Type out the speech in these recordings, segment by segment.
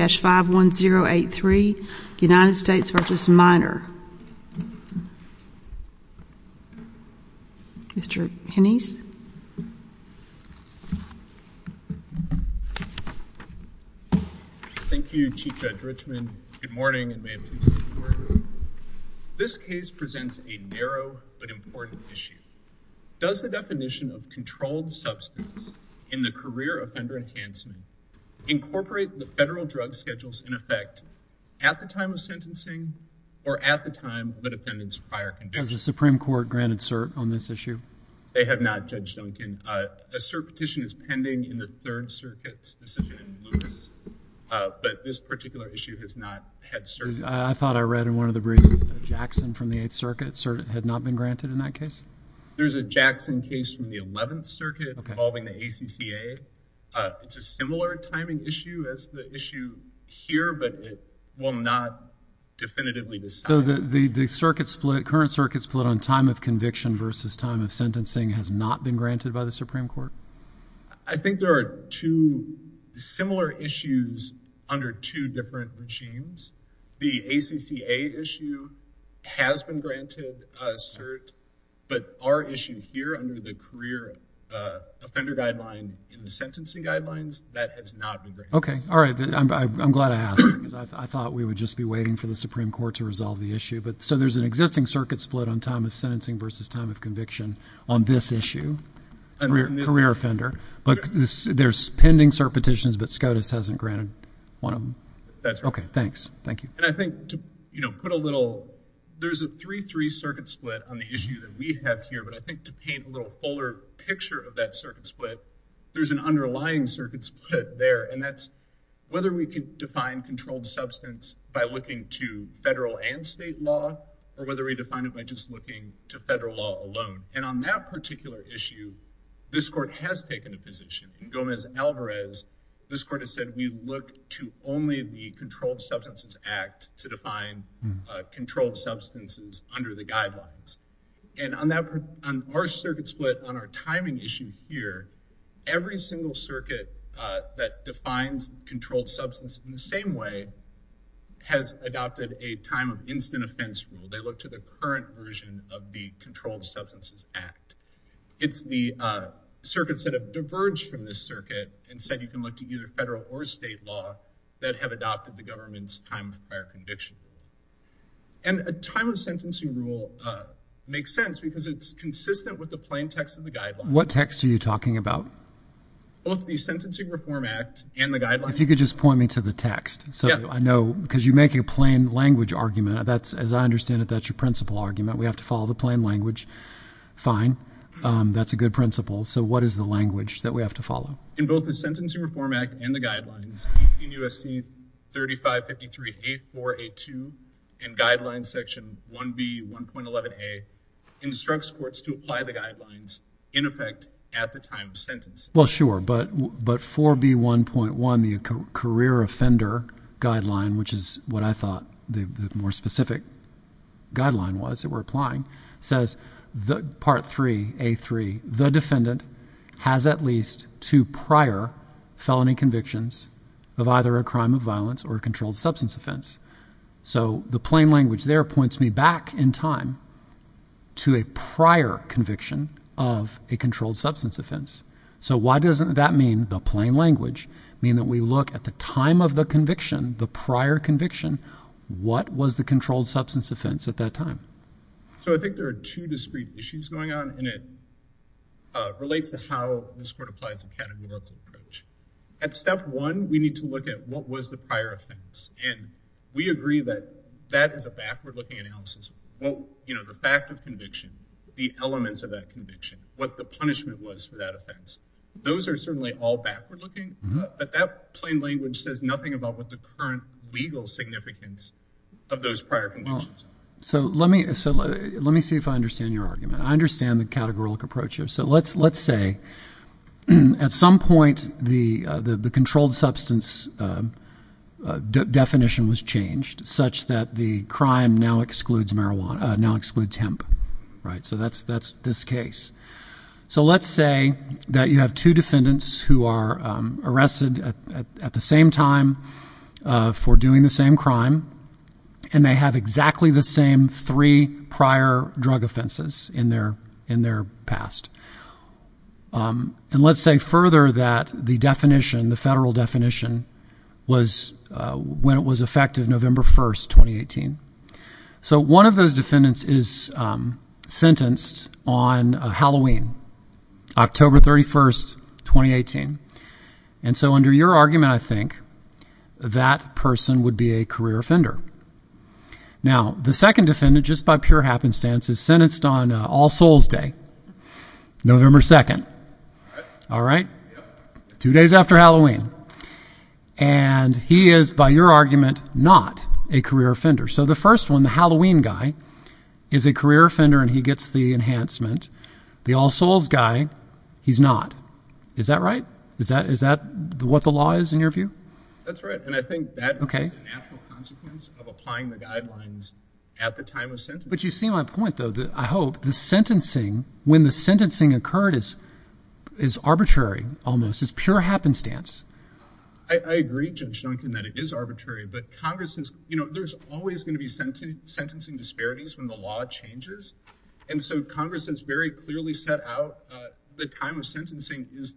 51083, United States v. Minor. Mr. Hennessy. Thank you, Chief Judge Richman. Good morning. This case presents a narrow but important issue. Does the definition of controlled substance use in the career offender enhancement incorporate the federal drug schedules in effect at the time of sentencing or at the time of the defendant's prior conviction? Has the Supreme Court granted cert on this issue? They have not, Judge Duncan. A cert petition is pending in the Third Circuit's decision in Lewis, but this particular issue has not had cert. I thought I read in one of the briefs that Jackson from the Eighth Circuit had not been granted in that case? There's a Jackson case from the Eleventh Circuit involving the ACCA. It's a similar timing issue as the issue here, but it will not definitively decide. So the circuit split, current circuit split on time of conviction versus time of sentencing has not been granted by the Supreme Court? I think there are two similar issues under two different regimes. The ACCA issue has been granted cert, but our issue here under the career offender guideline in the sentencing guidelines, that has not been granted. Okay. All right. I'm glad I asked because I thought we would just be waiting for the Supreme Court to resolve the issue. So there's an existing circuit split on time of sentencing versus time of conviction on this issue, career offender. But there's pending cert petitions, but SCOTUS hasn't granted one of them? That's right. Okay. There's a three, three circuit split on the issue that we have here, but I think to paint a little fuller picture of that circuit split, there's an underlying circuit split there. And that's whether we can define controlled substance by looking to federal and state law, or whether we define it by just looking to federal law alone. And on that particular issue, this court has taken a position in Gomez-Alvarez. This court has said, we look to only the controlled substances under the guidelines. And on that, on our circuit split, on our timing issue here, every single circuit that defines controlled substance in the same way has adopted a time of instant offense rule. They look to the current version of the Controlled Substances Act. It's the circuits that have diverged from this circuit and said, you can look to either federal or state law that have adopted the government's time of prior convictions. And a time of sentencing rule makes sense because it's consistent with the plain text of the guidelines. What text are you talking about? Both the Sentencing Reform Act and the guidelines. If you could just point me to the text. So I know, because you make a plain language argument. That's, as I understand it, that's your principal argument. We have to follow the plain language. Fine. That's a good principle. So what is the language that we have to follow? In both the Sentencing Reform Act and the guidelines, 18 U.S.C. 3553A4A2 and Guidelines Section 1B1.11a instructs courts to apply the guidelines in effect at the time of sentence. Well, sure. But 4B1.1, the Career Offender Guideline, which is what I least two prior felony convictions of either a crime of violence or a controlled substance offense. So the plain language there points me back in time to a prior conviction of a controlled substance offense. So why doesn't that mean the plain language mean that we look at the time of the conviction, the prior conviction? What was the controlled substance offense at that time? So I think there are two discrete issues going on, and it relates to how this court applies a categorical approach. At step one, we need to look at what was the prior offense. And we agree that that is a backward looking analysis. Well, you know, the fact of conviction, the elements of that conviction, what the punishment was for that offense, those are certainly all backward looking. But that plain language says nothing about what the current legal significance of those prior convictions. So let me see if I understand your argument. I understand the categorical approach here. So let's say at some point the controlled substance definition was changed such that the crime now excludes marijuana, now excludes hemp. So that's this case. So let's say that you have two defendants who are arrested at the same time for doing the same crime, and they have exactly the same three prior drug offenses in their past. And let's say further that the definition, the federal definition, was when it was effective November 1, 2018. So one of those defendants is sentenced on Halloween, October 31, 2018. And so under your argument, I think that person would be a career offender. Now, the second defendant, just by pure happenstance, is sentenced on All Souls Day, November 2. All right. Two days after Halloween. And he is, by your argument, not a career offender. So the first one, the Halloween guy, is a career offender, and he gets the enhancement. The All Souls guy, he's not. Is that right? Is that what the law is, in your view? That's right. And I think that is a natural consequence of applying the guidelines at the time of sentencing. But you see my point, though, that I hope the sentencing, when the sentencing occurred, is arbitrary, almost. It's pure happenstance. I agree, Judge Duncan, that it is arbitrary. But there's always going to be sentencing disparities when the law changes. And so Congress has very clearly set out the time of sentencing is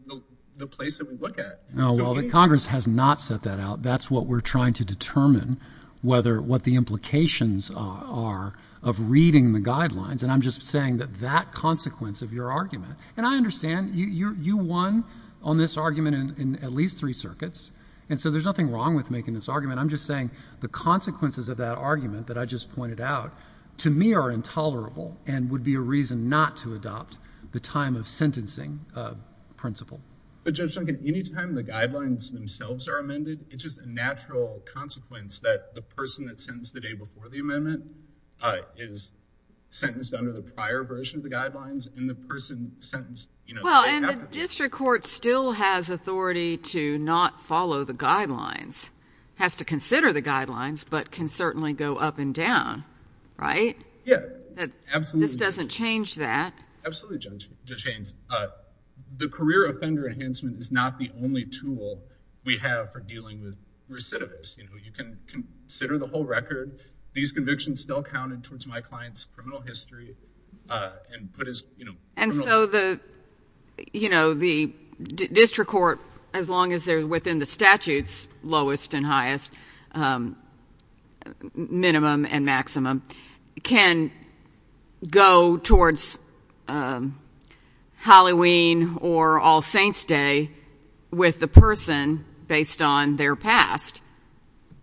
the place that we look at. No, Congress has not set that out. That's what we're trying to determine, what the implications are of reading the guidelines. And I'm just saying that that consequence of your argument, and I understand you won on this argument in at least three circuits. And so there's nothing wrong with making this argument. I'm just saying the consequences of that argument that I just pointed out, to me, are intolerable and would be a reason not to adopt the time of sentencing principle. But, Judge Duncan, any time the guidelines themselves are amended, it's just a natural consequence that the person that's sentenced the day before the amendment is sentenced under the prior version of the guidelines, and the person sentenced — Well, and the district court still has authority to not follow the up and down, right? Yeah, absolutely. This doesn't change that. Absolutely, Judge Haynes. The career offender enhancement is not the only tool we have for dealing with recidivists. You can consider the whole record. These convictions still counted towards my client's criminal history. And so the district court, as long as they're within the statute's lowest and highest, minimum and maximum, can go towards Halloween or All Saints Day with the person based on their past,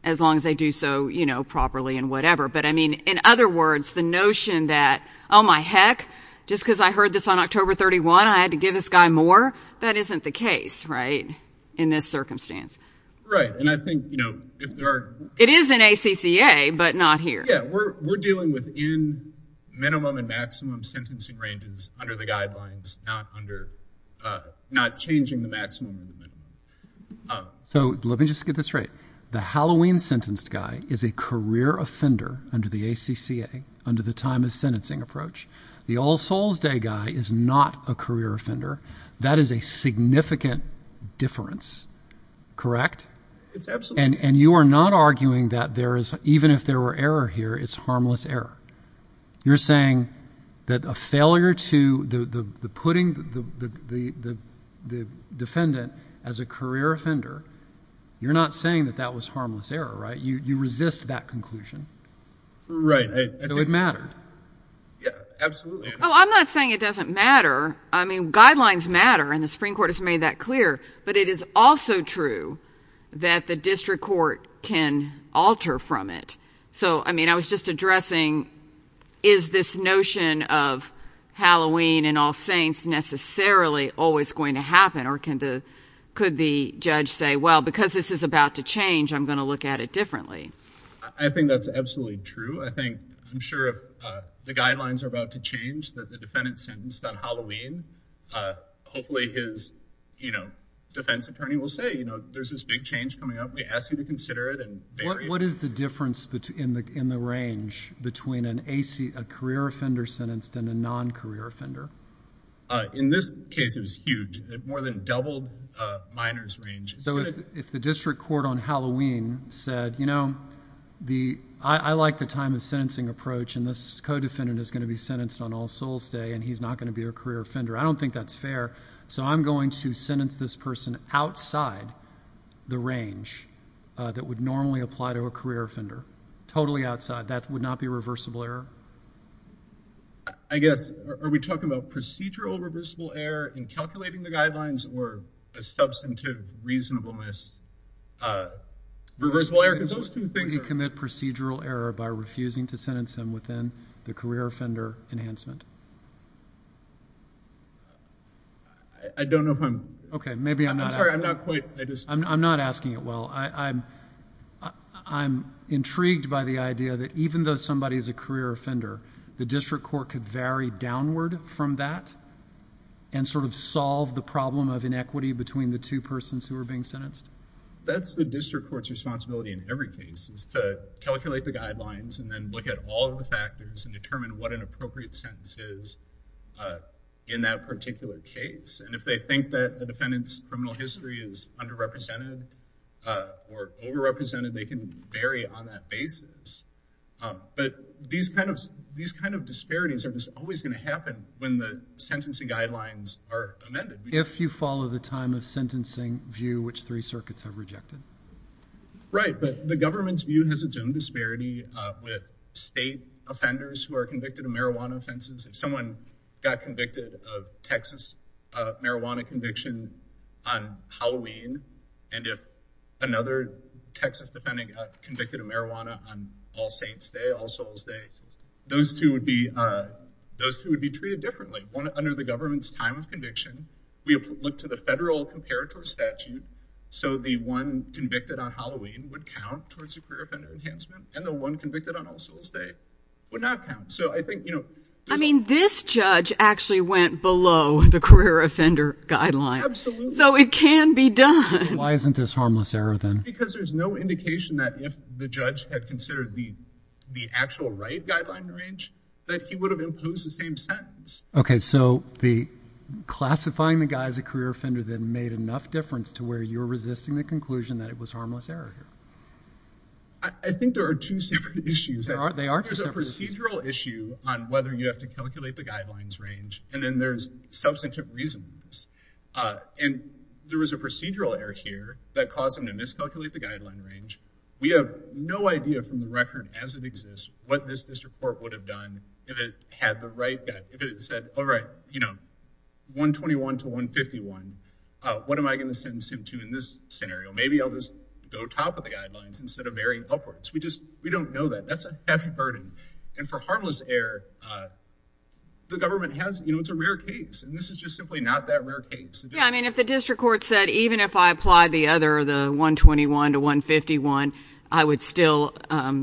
as long as they do so, you know, properly and whatever. But, I mean, in other words, the notion that, oh, my heck, just because I heard this on October 31, I had to give this guy more, that isn't the case, right, in this circumstance. Right. And I think, you know, if there are — It is in ACCA, but not here. Yeah, we're dealing within minimum and maximum sentencing ranges under the guidelines, not under — not changing the maximum. So let me just get this straight. The Halloween sentenced guy is a career offender under the ACCA, under the time of sentencing approach. The All Souls Day guy is not a career offender. That is a significant difference, correct? It's absolutely — And you are not arguing that there is — even if there were error here, it's harmless error. You're saying that a failure to — the putting the defendant as a career offender, you're not saying that that was harmless error, right? You resist that conclusion. Right. So it mattered. Yeah, absolutely. Oh, I'm not saying it doesn't matter. I mean, guidelines matter, and the Supreme Court has made that clear. But it is also true that the district court can alter from it. So, I mean, I was just addressing, is this notion of Halloween and All Saints necessarily always going to happen, or can the — could the judge say, well, because this is about to change, I'm going to look at it differently? I think that's absolutely true. I think, I'm sure if the guidelines are about to change that the defendant sentenced on Halloween, hopefully his, you know, defense attorney will say, you know, there's this big change coming up. We ask you to consider it and vary — What is the difference in the range between an AC — a career offender sentenced and a non-career offender? In this case, it was huge. It more than doubled a minor's range. So if the district court on Halloween said, you know, the — I like the time of sentencing approach, and this co-defendant is going to be sentenced on All Souls Day, and he's not going to be a career offender, I don't think that's fair. So I'm going to sentence this person outside the range that would normally apply to a career offender, totally outside. That would not be reversible error? I guess, are we talking about procedural reversible error in calculating the guidelines or a substantive reasonableness? Reversible error, where you commit procedural error by refusing to sentence him within the career offender enhancement. I don't know if I'm — Okay, maybe I'm not — I'm sorry, I'm not quite — I'm not asking it well. I'm intrigued by the idea that even though somebody is a career offender, the district court could vary downward from that and sort of solve the problem of inequity between the two persons who are being sentenced? That's the district court's responsibility in every case, is to calculate the guidelines and then look at all of the factors and determine what an appropriate sentence is in that particular case. And if they think that the defendant's criminal history is underrepresented or overrepresented, they can vary on that basis. But these kind of — these kind of disparities are just always going to happen when the sentencing guidelines are amended. If you follow the time of sentencing view, which three circuits have rejected? Right, but the government's view has its own disparity with state offenders who are convicted of marijuana offenses. If someone got convicted of Texas marijuana conviction on Halloween, and if another Texas defendant got convicted of marijuana on All Saints Day, All Souls Day, those two would be — those two would be treated differently. Under the government's time of conviction, we look to the federal comparator statute, so the one convicted on Halloween would count towards a career offender enhancement, and the one convicted on All Souls Day would not count. So I think, you know — I mean, this judge actually went below the career offender guideline. Absolutely. So it can be done. Why isn't this harmless error, then? Because there's no indication that if the judge had considered the actual right guideline range, that he would have imposed the same sentence. Okay, so the classifying the guy as a career offender, then, made enough difference to where you're resisting the conclusion that it was harmless error here. I think there are two separate issues. There are. There are two separate issues. There's a procedural issue on whether you have to calculate the guidelines range, and then there's substantive reasonableness. And there was a procedural error here that caused him to miscalculate the guideline range. We have no idea from the record as it exists what this all right, you know, 121 to 151, what am I going to sentence him to in this scenario? Maybe I'll just go top of the guidelines instead of very upwards. We just — we don't know that. That's a heavy burden. And for harmless error, the government has — you know, it's a rare case, and this is just simply not that rare a case. Yeah, I mean, if the district court said, even if I applied the other, the 121 to 151, I would still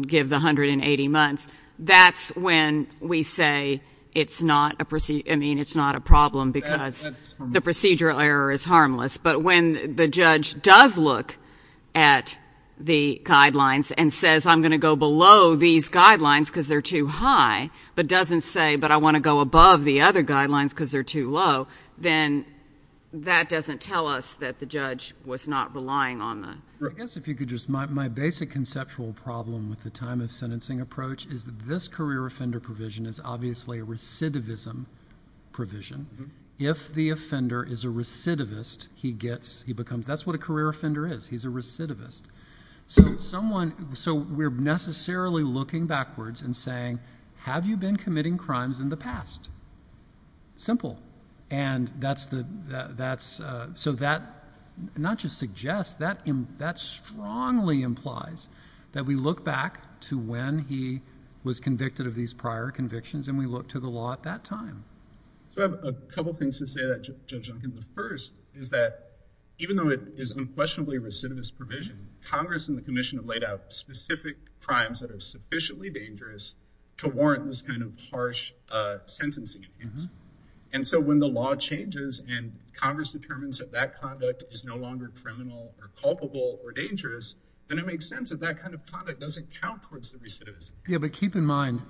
give the 180 months, that's when we say it's not a — I mean, it's not a problem because the procedural error is harmless. But when the judge does look at the guidelines and says, I'm going to go below these guidelines because they're too high, but doesn't say, but I want to go above the other guidelines because they're too low, then that doesn't tell us that the judge was not relying on the — I guess if you could just — my basic conceptual problem with the time of sentencing approach is that this career offender provision is obviously a recidivism provision. If the offender is a recidivist, he gets — he becomes — that's what a career offender is. He's a recidivist. So someone — so we're necessarily looking backwards and saying, have you been committing crimes in the past? Simple. And that's the — that's — so that not just suggests, that strongly implies that we look back to when he was convicted of these prior convictions and we look to the law at that time. So I have a couple things to say to that, Judge Duncan. The first is that even though it is unquestionably a recidivist provision, Congress and the Commission have laid out specific crimes that are sufficiently dangerous to warrant this kind of harsh sentencing. And so when the law changes and Congress determines that that conduct is no longer criminal or culpable or dangerous, then it makes sense that that kind of conduct doesn't count towards the recidivist. Yeah, but keep in mind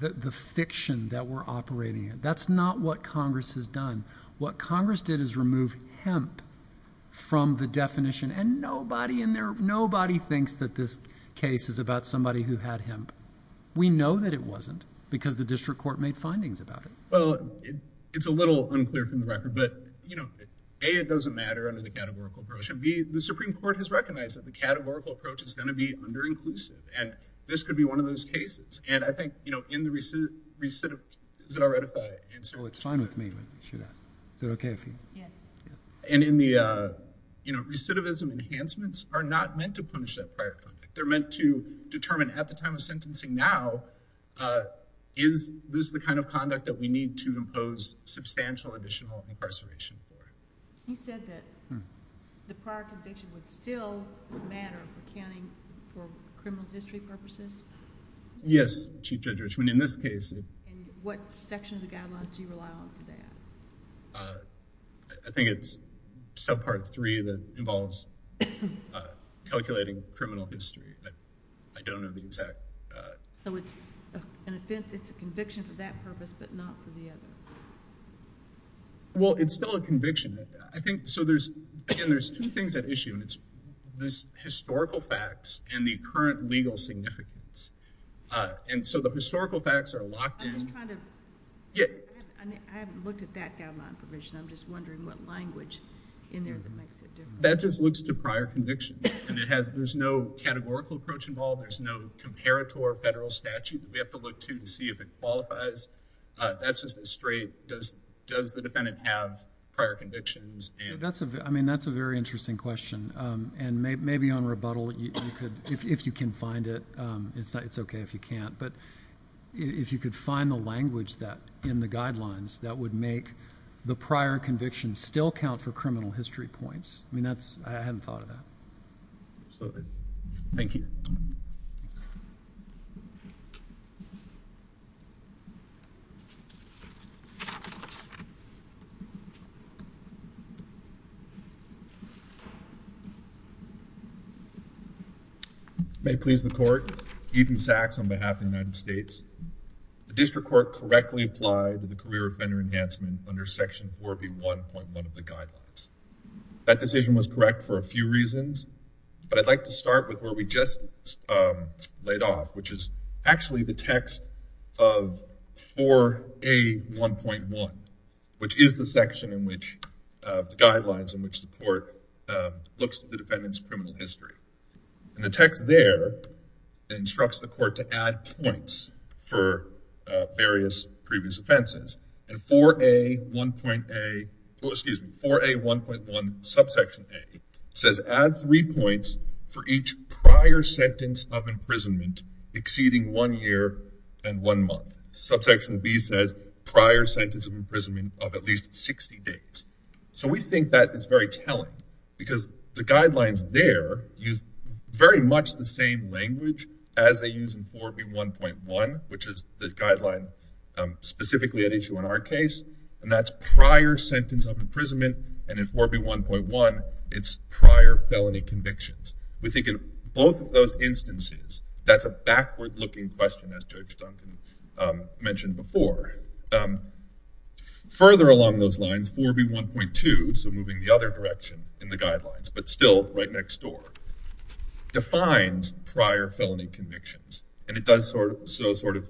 the fiction that we're operating in. That's not what Congress has done. What Congress did is remove hemp from the definition. And nobody in their — nobody thinks that this case is about somebody who had hemp. We know that it wasn't, because the district court made findings about it. Well, it's a little unclear from the record, but, you know, A, it doesn't matter under the categorical approach, and B, the Supreme Court has recognized that the categorical approach is going to be under-inclusive, and this could be one of those cases. And I think, you know, in the recidiv — recidiv — is it all right if I answer? Well, it's fine with me, but you should ask. Is it okay if you — Yes. And in the, you know, recidivism enhancements are not meant to punish that prior conduct. They're meant to determine at the time of sentencing now, is this the kind of conduct that we need to impose substantial additional incarceration for? You said that the prior conviction would still matter for accounting for criminal history purposes? Yes, Chief Judge Richman. In this case — And what section of the guidelines do you rely on for that? I think it's subpart three that involves calculating criminal history. I don't know the exact — So it's an offense, it's a conviction for that purpose, but not for the other. Well, it's still a conviction. I think — so there's — again, there's two things at issue, and it's this historical facts and the current legal significance. And so the historical facts are locked in — I'm just trying to — Yeah. I haven't looked at that guideline provision. I'm just wondering what language in there that makes it different. That just looks to prior conviction, and it has — there's no categorical approach involved, there's no comparator federal statute that we have to look to to see if it qualifies. That's just a straight — does the defendant have prior convictions and — That's a — I mean, that's a very interesting question. And maybe on rebuttal, you could — if you can find it, it's okay if you can't. But if you could find the language that — in the guidelines that would make the prior conviction still count for criminal history points. I mean, that's — I haven't thought of that. Sorry. Thank you. May it please the Court. Ethan Sachs on behalf of the United States. The district court correctly applied the career offender enhancement under Section 4B1.1 of the But I'd like to start with where we just laid off, which is actually the text of 4A1.1, which is the section in which — the guidelines in which the court looks at the defendant's criminal history. And the text there instructs the court to add points for various previous offenses. And 4A1.1 — excuse me, 4A1.1 subsection A says add three points for each prior sentence of imprisonment exceeding one year and one month. Subsection B says prior sentence of imprisonment of at least 60 days. So, we think that is very telling because the guidelines there use very much the same language as they use in 4B1.1, which is the guideline specifically at issue in our case. And that's prior sentence of prior felony convictions. We think in both of those instances, that's a backward-looking question, as Judge Duncan mentioned before. Further along those lines, 4B1.2 — so, moving the other direction in the guidelines, but still right next door — defines prior felony convictions. And it does so sort of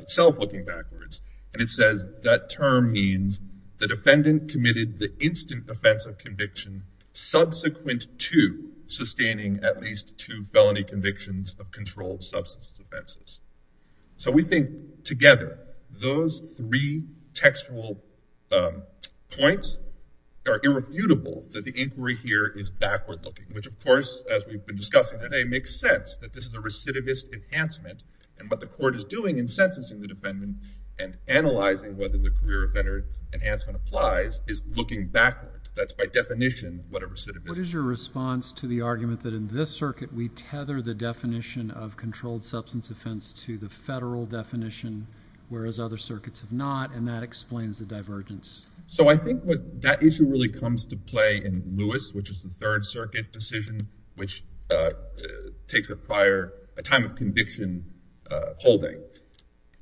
itself looking backwards. And it says that term means the defendant committed the instant offense of conviction subsequent to sustaining at least two felony convictions of controlled substance offenses. So, we think together those three textual points are irrefutable that the inquiry here is backward-looking, which of course, as we've been discussing today, makes sense that this is a recidivist enhancement. And what the court is doing in sentencing the defendant and analyzing whether the career enhancement applies is looking backward. That's by definition what a recidivist is. What is your response to the argument that in this circuit, we tether the definition of controlled substance offense to the federal definition, whereas other circuits have not, and that explains the divergence? So, I think what that issue really comes to play in Lewis, which is the Third Circuit decision, which takes a time of conviction holding.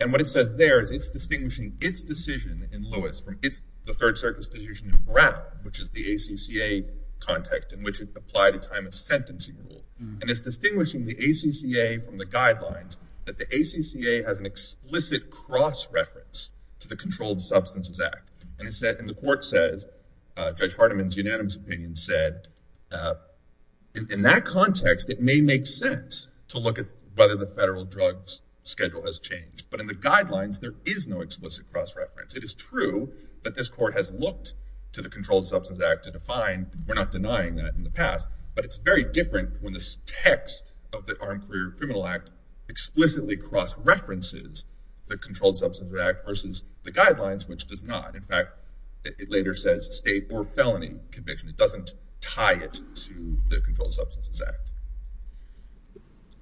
And what it says there is it's distinguishing its decision in Lewis from the Third Circuit's decision in Brown, which is the ACCA context in which it applied a time of sentencing rule. And it's distinguishing the ACCA from the guidelines that the ACCA has an explicit cross-reference to the Controlled Substances Act. And the court says, Judge Hardiman's unanimous opinion said, in that context, it may make sense to look at whether the It is true that this court has looked to the Controlled Substances Act to define, we're not denying that in the past, but it's very different when the text of the Armed Career Criminal Act explicitly cross-references the Controlled Substances Act versus the guidelines, which does not. In fact, it later says state or felony conviction. It doesn't tie it to the Controlled Substances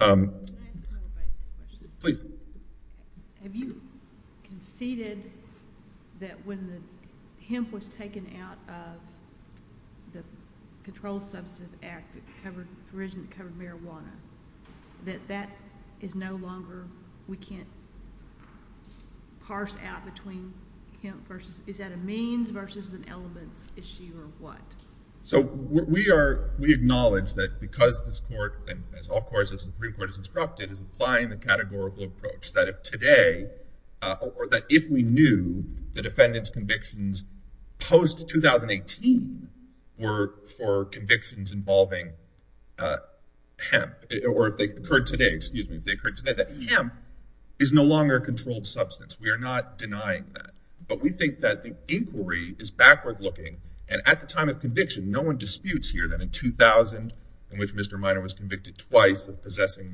Act. Please. Have you conceded that when the hemp was taken out of the Controlled Substances Act that covered marijuana, that that is no longer, we can't parse out between hemp versus, is that a means versus an elements issue or what? So we are, we acknowledge that because this court, and as all courts, the Supreme Court is applying the categorical approach that if today, or that if we knew the defendant's convictions post-2018 were for convictions involving hemp, or if they occurred today, excuse me, if they occurred today, that hemp is no longer a controlled substance. We are not denying that, but we think that the inquiry is backward looking. And at the time of conviction, no one disputes here that in 2000, in which Mr. Miner was involved in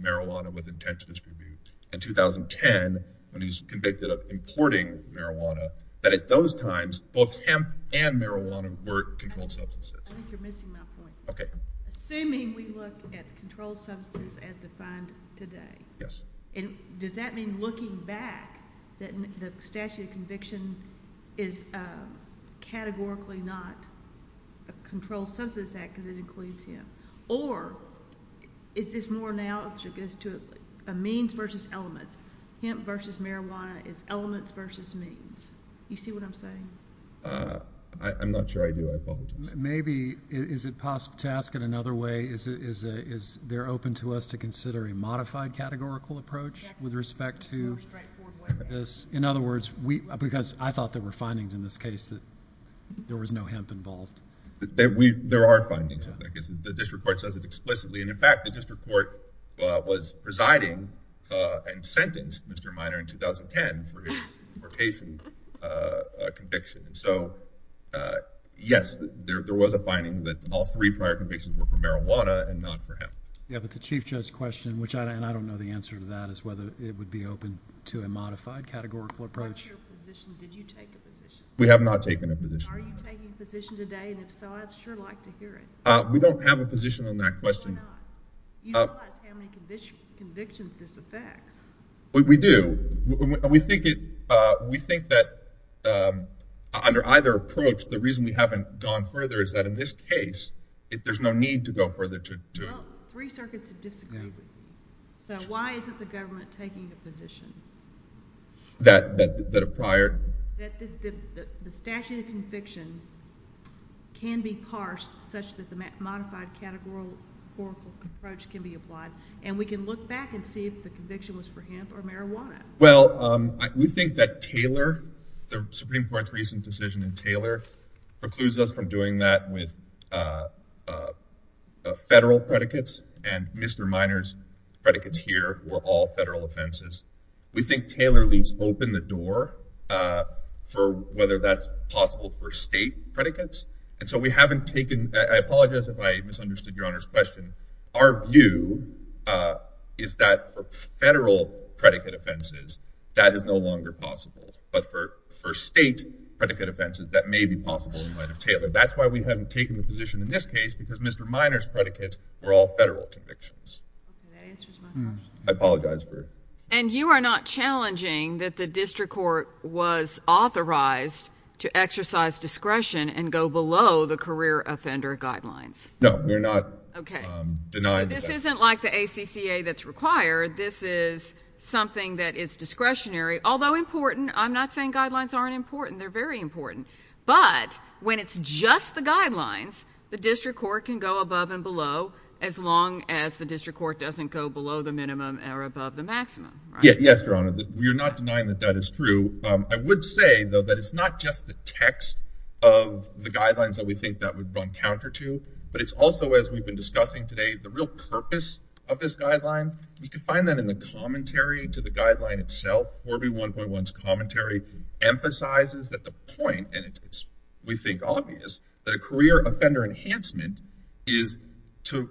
marijuana with intent to distribute, in 2010, when he was convicted of importing marijuana, that at those times, both hemp and marijuana were controlled substances. I think you're missing my point. Okay. Assuming we look at controlled substances as defined today. Yes. And does that mean looking back that the statute of conviction is categorically not a means versus elements? Hemp versus marijuana is elements versus means. You see what I'm saying? I'm not sure I do. I apologize. Maybe, is it possible to ask it another way? Is there open to us to consider a modified categorical approach with respect to... It's very straightforward way. In other words, because I thought there were findings in this case that there was no hemp involved. There are findings, I think. The district court says it explicitly. In fact, the district court was presiding and sentenced Mr. Miner in 2010 for his importation conviction. Yes, there was a finding that all three prior convictions were for marijuana and not for hemp. Yeah, but the Chief Judge's question, and I don't know the answer to that, is whether it would be open to a modified categorical approach. What's your position? Did you take a position? We have not taken a position. Are you taking a position today? And if so, I'd sure like to hear it. We don't have a position on that question. You don't realize how many convictions this affects. We do. We think that under either approach, the reason we haven't gone further is that in this case, there's no need to go further to... Well, three circuits have disagreed. So why isn't the government taking a position? That a prior... That the statute of conviction can be parsed such that the modified categorical approach can be applied. And we can look back and see if the conviction was for hemp or marijuana. Well, we think that Taylor, the Supreme Court's recent decision in Taylor, precludes us from doing that with federal predicates. And Mr. Minor's predicates here were all federal offenses. We think Taylor leaves open the door for whether that's possible for state predicates. And so we haven't taken... I apologize if I misunderstood Your Honor's question. Our view is that for federal predicate offenses, that is no longer possible. But for state predicate offenses, that may be possible in light of Taylor. That's why we haven't taken a position in this case, because Mr. Minor's predicates were all federal convictions. I apologize for... And you are not challenging that the district court was authorized to exercise discretion and go below the career offender guidelines? No, we're not denying that. This isn't like the ACCA that's required. This is something that is discretionary. Although important, I'm not saying guidelines aren't important. They're very important. But when it's just the guidelines, the district court can go above and below as long as the district court doesn't go below the minimum or above the maximum, right? Yes, Your Honor. We're not denying that that is true. I would say, though, that it's not just the text of the guidelines that we think that would run counter to, but it's also, as we've been discussing today, the real purpose of this guideline. You can find that in the commentary to the guideline itself. 4B1.1's commentary emphasizes that the point, and it is, we think, obvious, that a career offender enhancement is to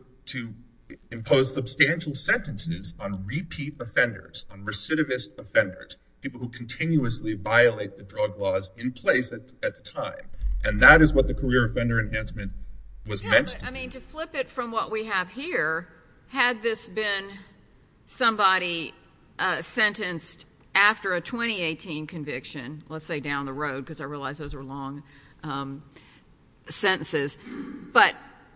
impose substantial sentences on repeat offenders, on recidivist offenders, people who continuously violate the drug laws in place at the time. And that is what the career offender enhancement was meant to be. I mean, to flip it from what we have here, had this been somebody sentenced after a 2018 conviction, let's say down the road, because I realize those are long sentences, but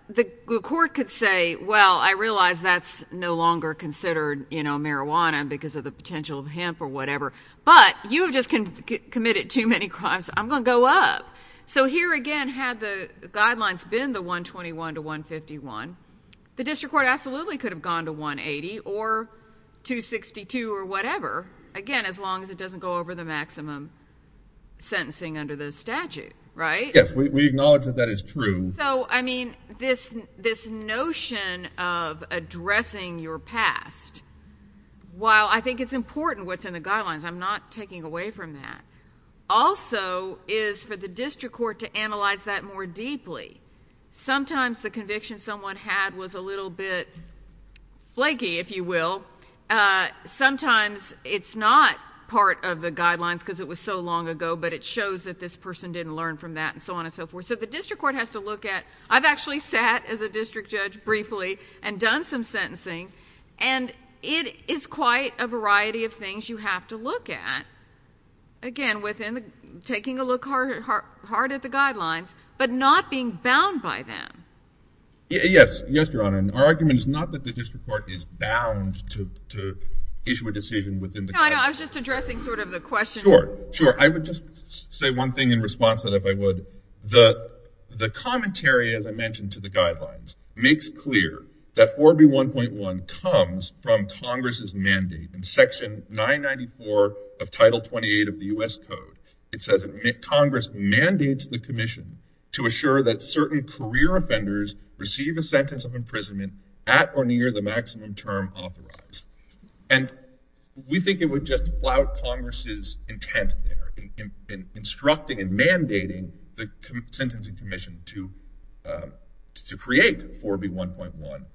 the court could say, well, I realize that's no longer considered marijuana because of the potential of hemp or whatever, but you have just committed too many crimes. I'm going to go up. So here again, had the guidelines been the 121 to 151, the district court absolutely could have gone to 180 or 262 or whatever, again, as long as it doesn't go over the maximum sentencing under the statute, right? Yes, we acknowledge that that is true. So, I mean, this notion of addressing your past, while I think it's important what's in the guidelines, I'm not taking away from that, also is for the district court to analyze that more deeply. Sometimes the conviction someone had was a little bit flaky, if you will. Sometimes it's not part of the guidelines because it was so long ago, but it shows that this person didn't learn from that and so on and so forth. So the district court has to look at, I've actually sat as a district judge briefly and done some sentencing and it is quite a variety of things you have to look at, again, within the taking a look hard at the guidelines, but not being bound by them. Yes, yes, Your Honor. And our argument is not that the district court is bound to issue a decision within the- No, I was just addressing sort of the question- Sure, sure. I would just say one thing in response that if I would, the commentary, as I mentioned to the guidelines, makes clear that 4B1.1 comes from Congress's mandate. In section 994 of Title 28 of the U.S. Code, it says Congress mandates the commission to assure that certain career offenders receive a sentence of imprisonment at or near the maximum term authorized. And we think it would just flout Congress's intent there in instructing and mandating the Sentencing Commission to create 4B1.1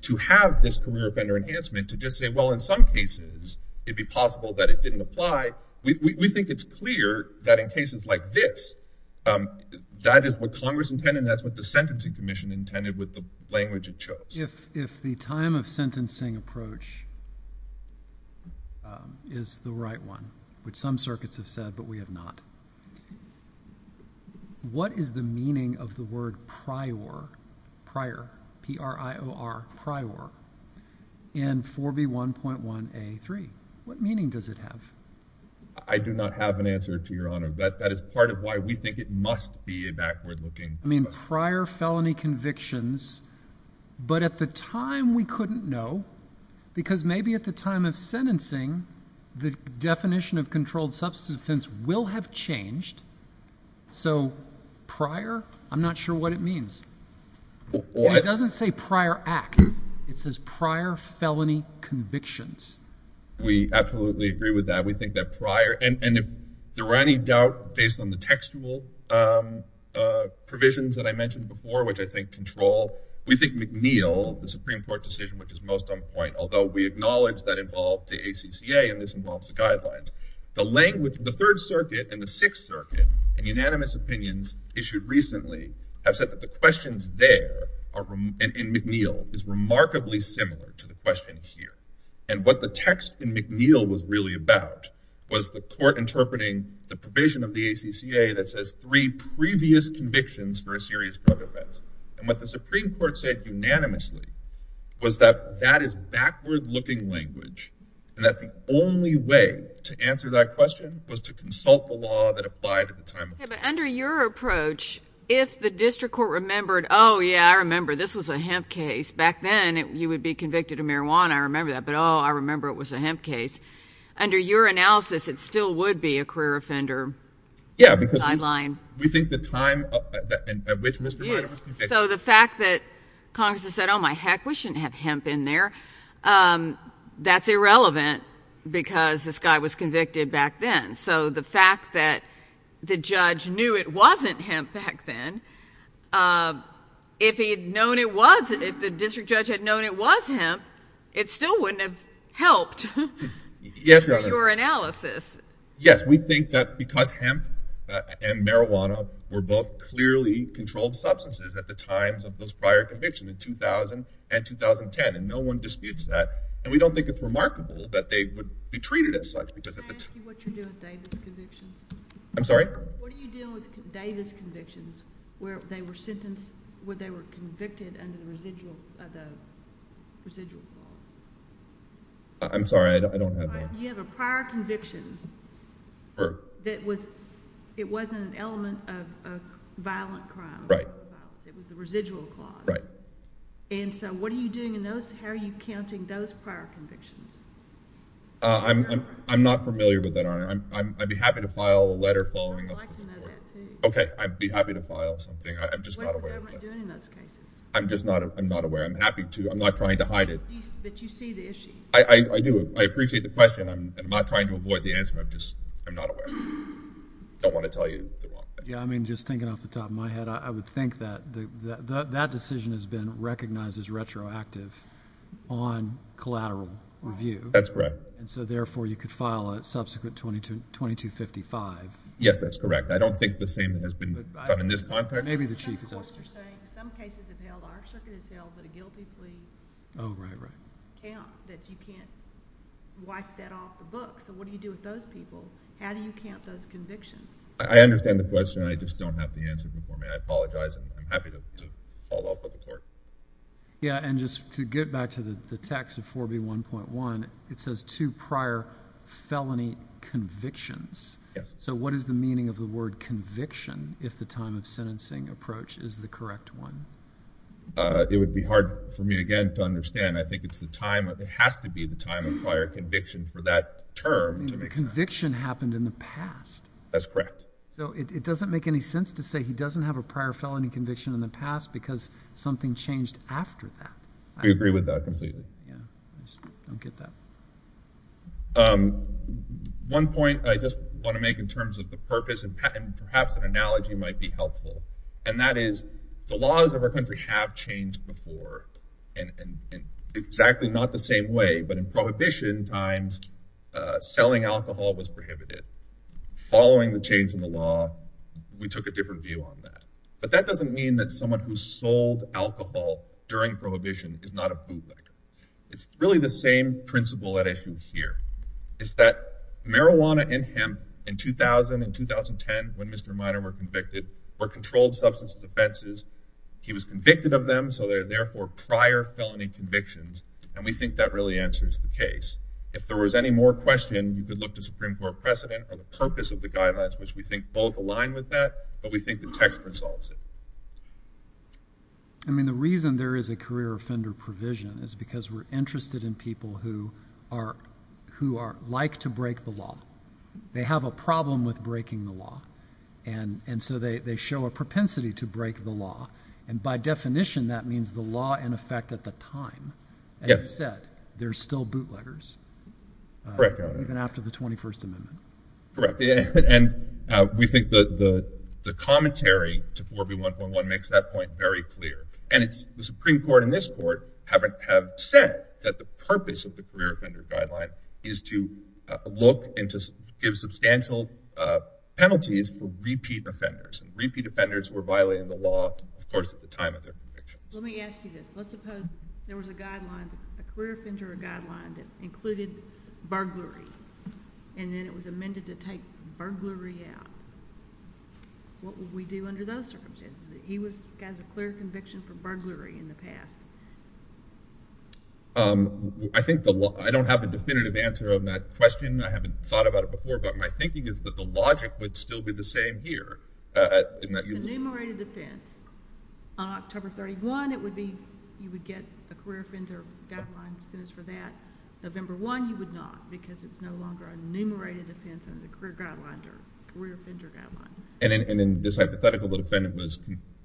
to have this career offender enhancement to just say, well, in some cases, it'd be possible that it didn't apply. We think it's clear that in cases like this, that is what Congress intended and that's what the Sentencing Commission intended with the language it chose. If the time of sentencing approach is the right one, which some circuits have said, but we have not, what is the meaning of the word prior, prior, P-R-I-O-R, prior in 4B1.1A3? What meaning does it have? I do not have an answer to Your Honor. That is part of why we think it must be a backward-looking- I mean, prior felony convictions, but at the time, we couldn't know because maybe at the time of sentencing, the definition of controlled substance offense will have changed. So prior, I'm not sure what it means. It doesn't say prior acts. It says prior felony convictions. We absolutely agree with that. We think that prior, and if there were any doubt based on the textual provisions that I mentioned before, which I think control, we think McNeil, the Supreme Court decision, which is most on point, although we acknowledge that involved the ACCA and this involves the guidelines. The language, the Third Circuit and the Sixth Circuit, in unanimous opinions issued recently, have said that the questions there in McNeil is remarkably similar to the question here. And what the text in McNeil was really about was the court interpreting the provision of the ACCA that says three previous convictions for a serious drug offense. And what the Supreme Court said unanimously was that that is backward-looking language and that the only way to answer that question was to consult the law that applied at the time. Yeah, but under your approach, if the district court remembered, oh, yeah, I remember this was a hemp case. Back then, you would be convicted of marijuana. I remember that. But, oh, I remember it was a hemp case. Under your analysis, it still would be a career offender guideline. We think the time at which Mr. Miner was convicted. So the fact that Congress has said, oh, my heck, we shouldn't have hemp in there. Um, that's irrelevant because this guy was convicted back then. So the fact that the judge knew it wasn't hemp back then, if he had known it was, if the district judge had known it was hemp, it still wouldn't have helped your analysis. Yes, we think that because hemp and marijuana were both clearly controlled substances at the time. We don't think it's remarkable that they would be treated as such. Can I ask you what you're doing with Davis convictions? I'm sorry? What are you doing with Davis convictions, where they were sentenced, where they were convicted under the residual, the residual clause? I'm sorry, I don't have that. You have a prior conviction that was, it wasn't an element of a violent crime. Right. It was the residual clause. Right. And so what are you doing in those? How are you counting those prior convictions? Uh, I'm, I'm, I'm not familiar with that, I'm, I'm, I'd be happy to file a letter following up. I'd like to know that too. Okay. I'd be happy to file something. I'm just not aware of that. What's the government doing in those cases? I'm just not, I'm not aware. I'm happy to, I'm not trying to hide it. But you see the issue. I, I do. I appreciate the question. I'm not trying to avoid the answer. I'm just, I'm not aware. I don't want to tell you the wrong thing. Yeah. I mean, just thinking off the top of my head, I would think that the, the, that decision has been recognized as retroactive on collateral review. That's correct. And so therefore you could file a subsequent 22, 2255. Yes, that's correct. I don't think the same has been done in this context. Maybe the chief is asking. Some cases have held, our circuit has held that a guilty plea. Oh, right, right. Count that you can't wipe that off the book. So what do you do with those people? How do you count those convictions? I understand the question. I just don't have the answer for me. I'm happy to follow up with the court. Yeah. And just to get back to the text of 4B1.1, it says two prior felony convictions. Yes. So what is the meaning of the word conviction? If the time of sentencing approach is the correct one. It would be hard for me again to understand. I think it's the time. It has to be the time of prior conviction for that term. I mean, the conviction happened in the past. That's correct. So it doesn't make any sense to say he doesn't have a prior felony conviction in the past because something changed after that. We agree with that completely. Yeah, I just don't get that. One point I just want to make in terms of the purpose and perhaps an analogy might be helpful. And that is the laws of our country have changed before. But in prohibition times, selling alcohol was prohibited. Following the change in the law, we took a different view on that. But that doesn't mean that someone who sold alcohol during prohibition is not a bootlegger. It's really the same principle at issue here. It's that marijuana and hemp in 2000 and 2010 when Mr. Minor were convicted were controlled substance offenses. He was convicted of them. So they're therefore prior felony convictions. And we think that really answers the case. If there was any more question, you could look to Supreme Court precedent or the purpose of the guidelines, which we think both align with that. But we think the text resolves it. I mean, the reason there is a career offender provision is because we're interested in people who are like to break the law. They have a problem with breaking the law. And so they show a propensity to break the law. And by definition, that means the law in effect at the time. As you said, there's still bootleggers. Correct. Even after the 21st Amendment. Correct. And we think the commentary to 4B1.1 makes that point very clear. And it's the Supreme Court and this court have said that the purpose of the career offender guideline is to look and to give substantial penalties for repeat offenders. And repeat offenders were violated in the law, of course, at the time of their convictions. Let me ask you this. Let's suppose there was a guideline, a career offender guideline that included burglary and then it was amended to take burglary out. What would we do under those circumstances? He has a clear conviction for burglary in the past. I think the law... I don't have a definitive answer on that question. I haven't thought about it before. But my thinking is that the logic would still be the same here. The enumerated offense on October 31, it would be you would get a career offender guideline as soon as for that. November 1, you would not because it's no longer an enumerated offense under the career guideline or career offender guideline. And in this hypothetical, the defendant was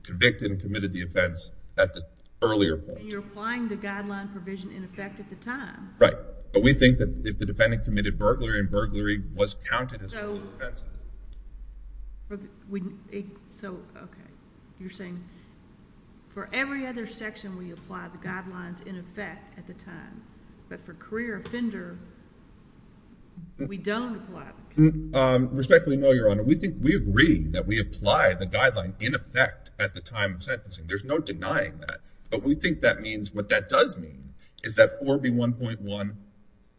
convicted and committed the offense at the earlier point. You're applying the guideline provision in effect at the time. Right. But we think that if the defendant committed burglary and burglary was counted as one of those offenses. So, okay. You're saying for every other section, we apply the guidelines in effect at the time. But for career offender, we don't apply the guidelines. Respectfully, no, Your Honor. We think we agree that we apply the guideline in effect at the time of sentencing. There's no denying that. But we think that means... What that does mean is that 4B1.1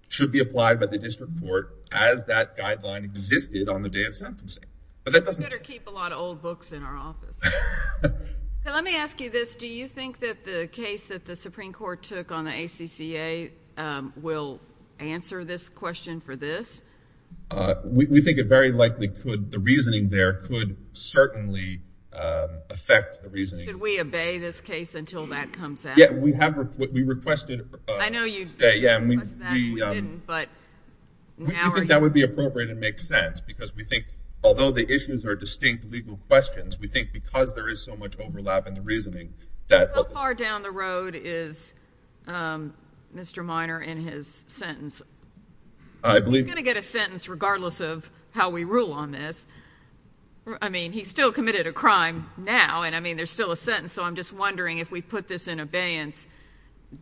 should be applied by the district court as that guideline existed on the day of sentencing. But that doesn't... We better keep a lot of old books in our office. Let me ask you this. Do you think that the case that the Supreme Court took on the ACCA will answer this question for this? We think it very likely could. The reasoning there could certainly affect the reasoning. Should we obey this case until that comes out? Yeah, we requested... I know you requested that and you didn't, but now are you... We think that would be appropriate and make sense because we think, although the issues are distinct legal questions, we think because there is so much overlap in the reasoning that... How far down the road is Mr. Minor in his sentence? I believe... He's going to get a sentence regardless of how we rule on this. I mean, he's still committed a crime now and, I mean, there's still a sentence. So I'm just wondering if we put this in abeyance,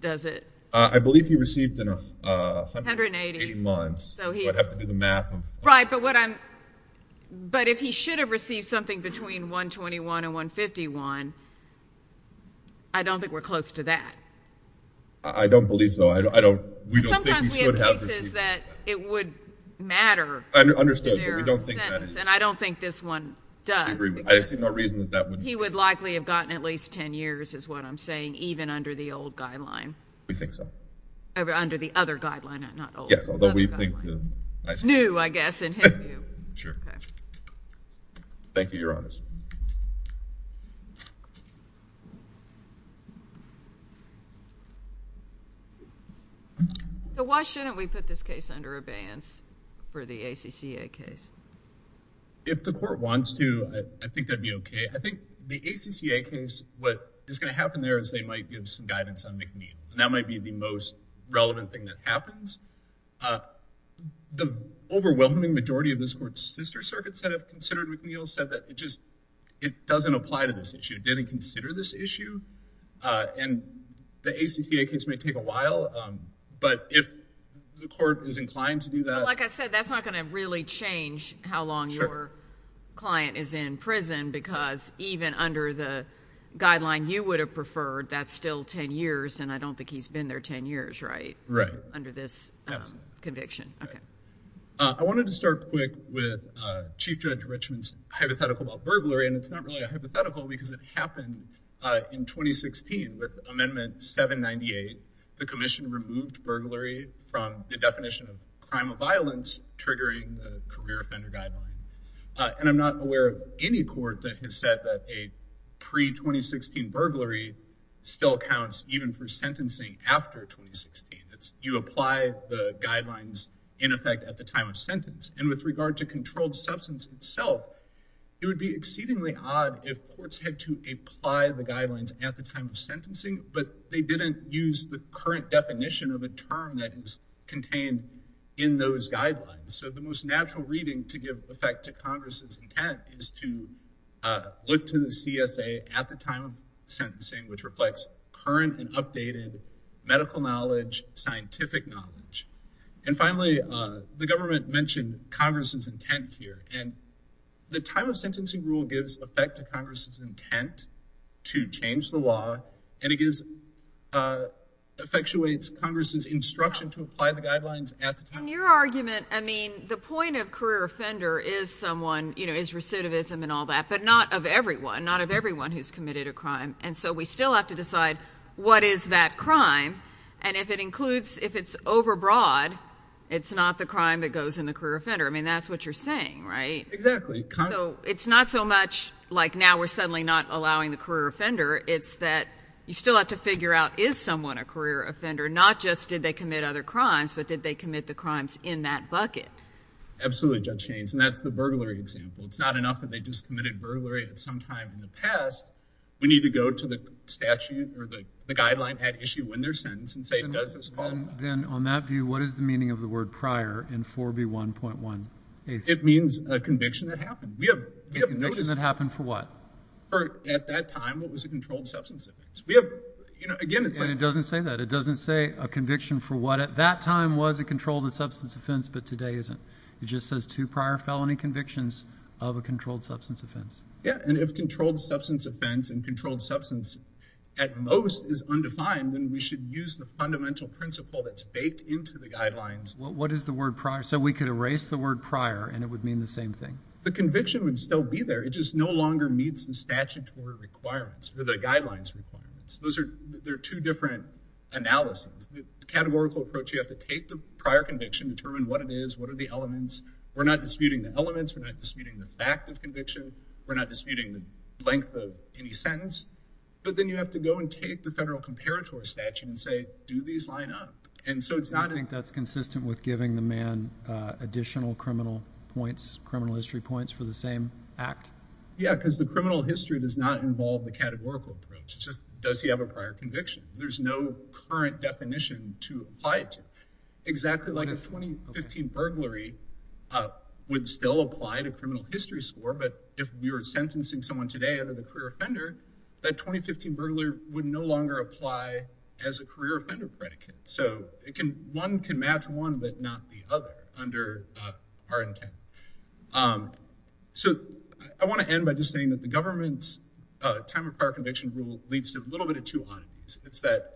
does it... I believe he received in 180 months. So I'd have to do the math. Right, but what I'm... But if he should have received something between 121 and 151, I don't think we're close to that. I don't believe so. I don't... We don't think he should have received... Sometimes we have cases that it would matter... Understood, but we don't think that is... And I don't think this one does because... I agree with you. I see no reason that that wouldn't... He would likely have gotten at least 10 years is what I'm saying, even under the old guideline. We think so. Under the other guideline, not old. Yes, although we think the... New, I guess, in his view. Sure. Thank you, Your Honors. So why shouldn't we put this case under abeyance for the ACCA case? If the court wants to, I think that'd be okay. I think the ACCA case, what is going to happen there is they might give some guidance on McNeil, and that might be the most relevant thing that happens. The overwhelming majority of this court's sister circuits that have considered McNeil said that it just... it doesn't apply to this issue. It didn't consider this issue, and the ACCA case may take a while, but if the court is inclined to do that... But like I said, that's not going to really change how long your client is in prison because even under the guideline you would have preferred, that's still 10 years, and I don't think he's been there 10 years, right? Right. Under this... Conviction, okay. I wanted to start quick with Chief Judge Richmond's hypothetical about burglary, and it's not really a hypothetical because it happened in 2016 with Amendment 798. The commission removed burglary from the definition of crime of violence triggering the career offender guideline, and I'm not aware of any court that has said that a pre-2016 burglary still counts even for sentencing after 2016. You apply the guidelines in effect at the time of sentence, and with regard to controlled substance itself, it would be exceedingly odd if courts had to apply the guidelines at the time of sentencing, but they didn't use the current definition of a term that is contained in those guidelines. So the most natural reading to give effect to Congress's intent is to look to the CSA at the time of sentencing, which reflects current and updated medical knowledge, scientific knowledge. And finally, the government mentioned Congress's intent here, and the time of sentencing rule gives effect to Congress's intent to change the law, and it gives... effectuates Congress's instruction to apply the guidelines at the time. In your argument, I mean, the point of career offender is someone, you know, is recidivism and all that, but not of everyone. Not of everyone who's committed a crime, and so we still have to decide what is that crime, and if it includes... if it's overbroad, it's not the crime that goes in the career offender. I mean, that's what you're saying, right? Exactly. So it's not so much, like, now we're suddenly not allowing the career offender. It's that you still have to figure out, is someone a career offender? Not just did they commit other crimes, but did they commit the crimes in that bucket? Absolutely, Judge Haynes, and that's the burglary example. It's not enough that they just committed burglary at some time in the past. We need to go to the statute or the guideline at issue when they're sentenced and say, does this qualify? Then on that view, what is the meaning of the word prior in 4B1.1? It means a conviction that happened. A conviction that happened for what? At that time, it was a controlled substance offense. We have, you know, again, it's like... It doesn't say that. It doesn't say a conviction for what at that time was a controlled substance offense, but today isn't. It just says two prior felony convictions of a controlled substance offense. Yeah, and if controlled substance offense and controlled substance at most is undefined, then we should use the fundamental principle that's baked into the guidelines. What is the word prior? So we could erase the word prior and it would mean the same thing. The conviction would still be there. It just no longer meets the statutory requirements or the guidelines requirements. Those are two different analyses. The categorical approach, you have to take the prior conviction, determine what it is, what are the elements. We're not disputing the elements. We're not disputing the fact of conviction. We're not disputing the length of any sentence, but then you have to go and take the federal comparator statute and say, do these line up? And so it's not... Do you think that's consistent with giving the man additional criminal points, criminal history points for the same act? Yeah, because the criminal history does not involve the categorical approach. It's just, does he have a prior conviction? There's no current definition to apply to. Exactly like a 2015 burglary would still apply to criminal history score, but if we were sentencing someone today under the career offender, that 2015 burglar would no longer apply as a career offender predicate. So one can match one, but not the other under our intent. So I want to end by just saying that the government's time of prior conviction rule leads to a little bit of two ideas. It's that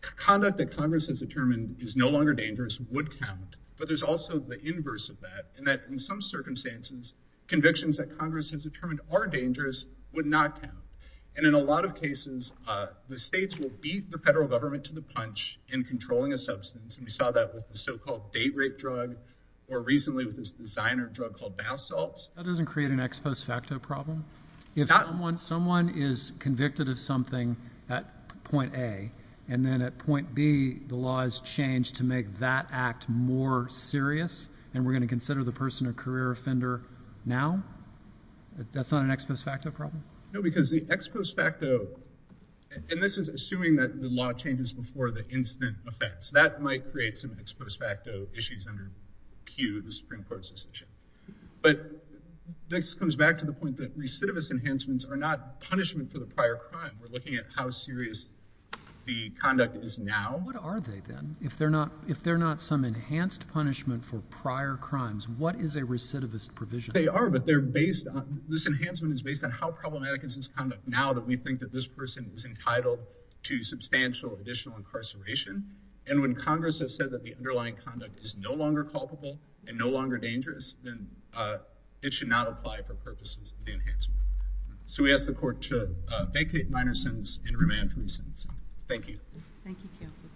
conduct that Congress has determined is no longer dangerous would count, but there's also the inverse of that, and that in some circumstances, convictions that Congress has determined are dangerous would not count. And in a lot of cases, the states will beat the federal government to the punch in controlling a substance, and we saw that with the so-called date rape drug, or recently with this designer drug called bath salts. That doesn't create an ex post facto problem. Someone is convicted of something at point A, and then at point B, the laws change to make that act more serious, and we're going to consider the person a career offender now? That's not an ex post facto problem? No, because the ex post facto, and this is assuming that the law changes before the incident affects, that might create some ex post facto issues under Q, the Supreme Court's decision. But this comes back to the point that recidivist enhancements are not punishment for the prior crime. We're looking at how serious the conduct is now. What are they then? If they're not some enhanced punishment for prior crimes, what is a recidivist provision? They are, but this enhancement is based on how problematic is this conduct now that we think that this person is entitled to substantial additional incarceration? And when Congress has said that the underlying conduct is no longer culpable and no longer dangerous, then it should not apply for purposes of the enhancement. So we ask the court to vacate minor sentence and remand from the sentence. Thank you. Thank you, counsel.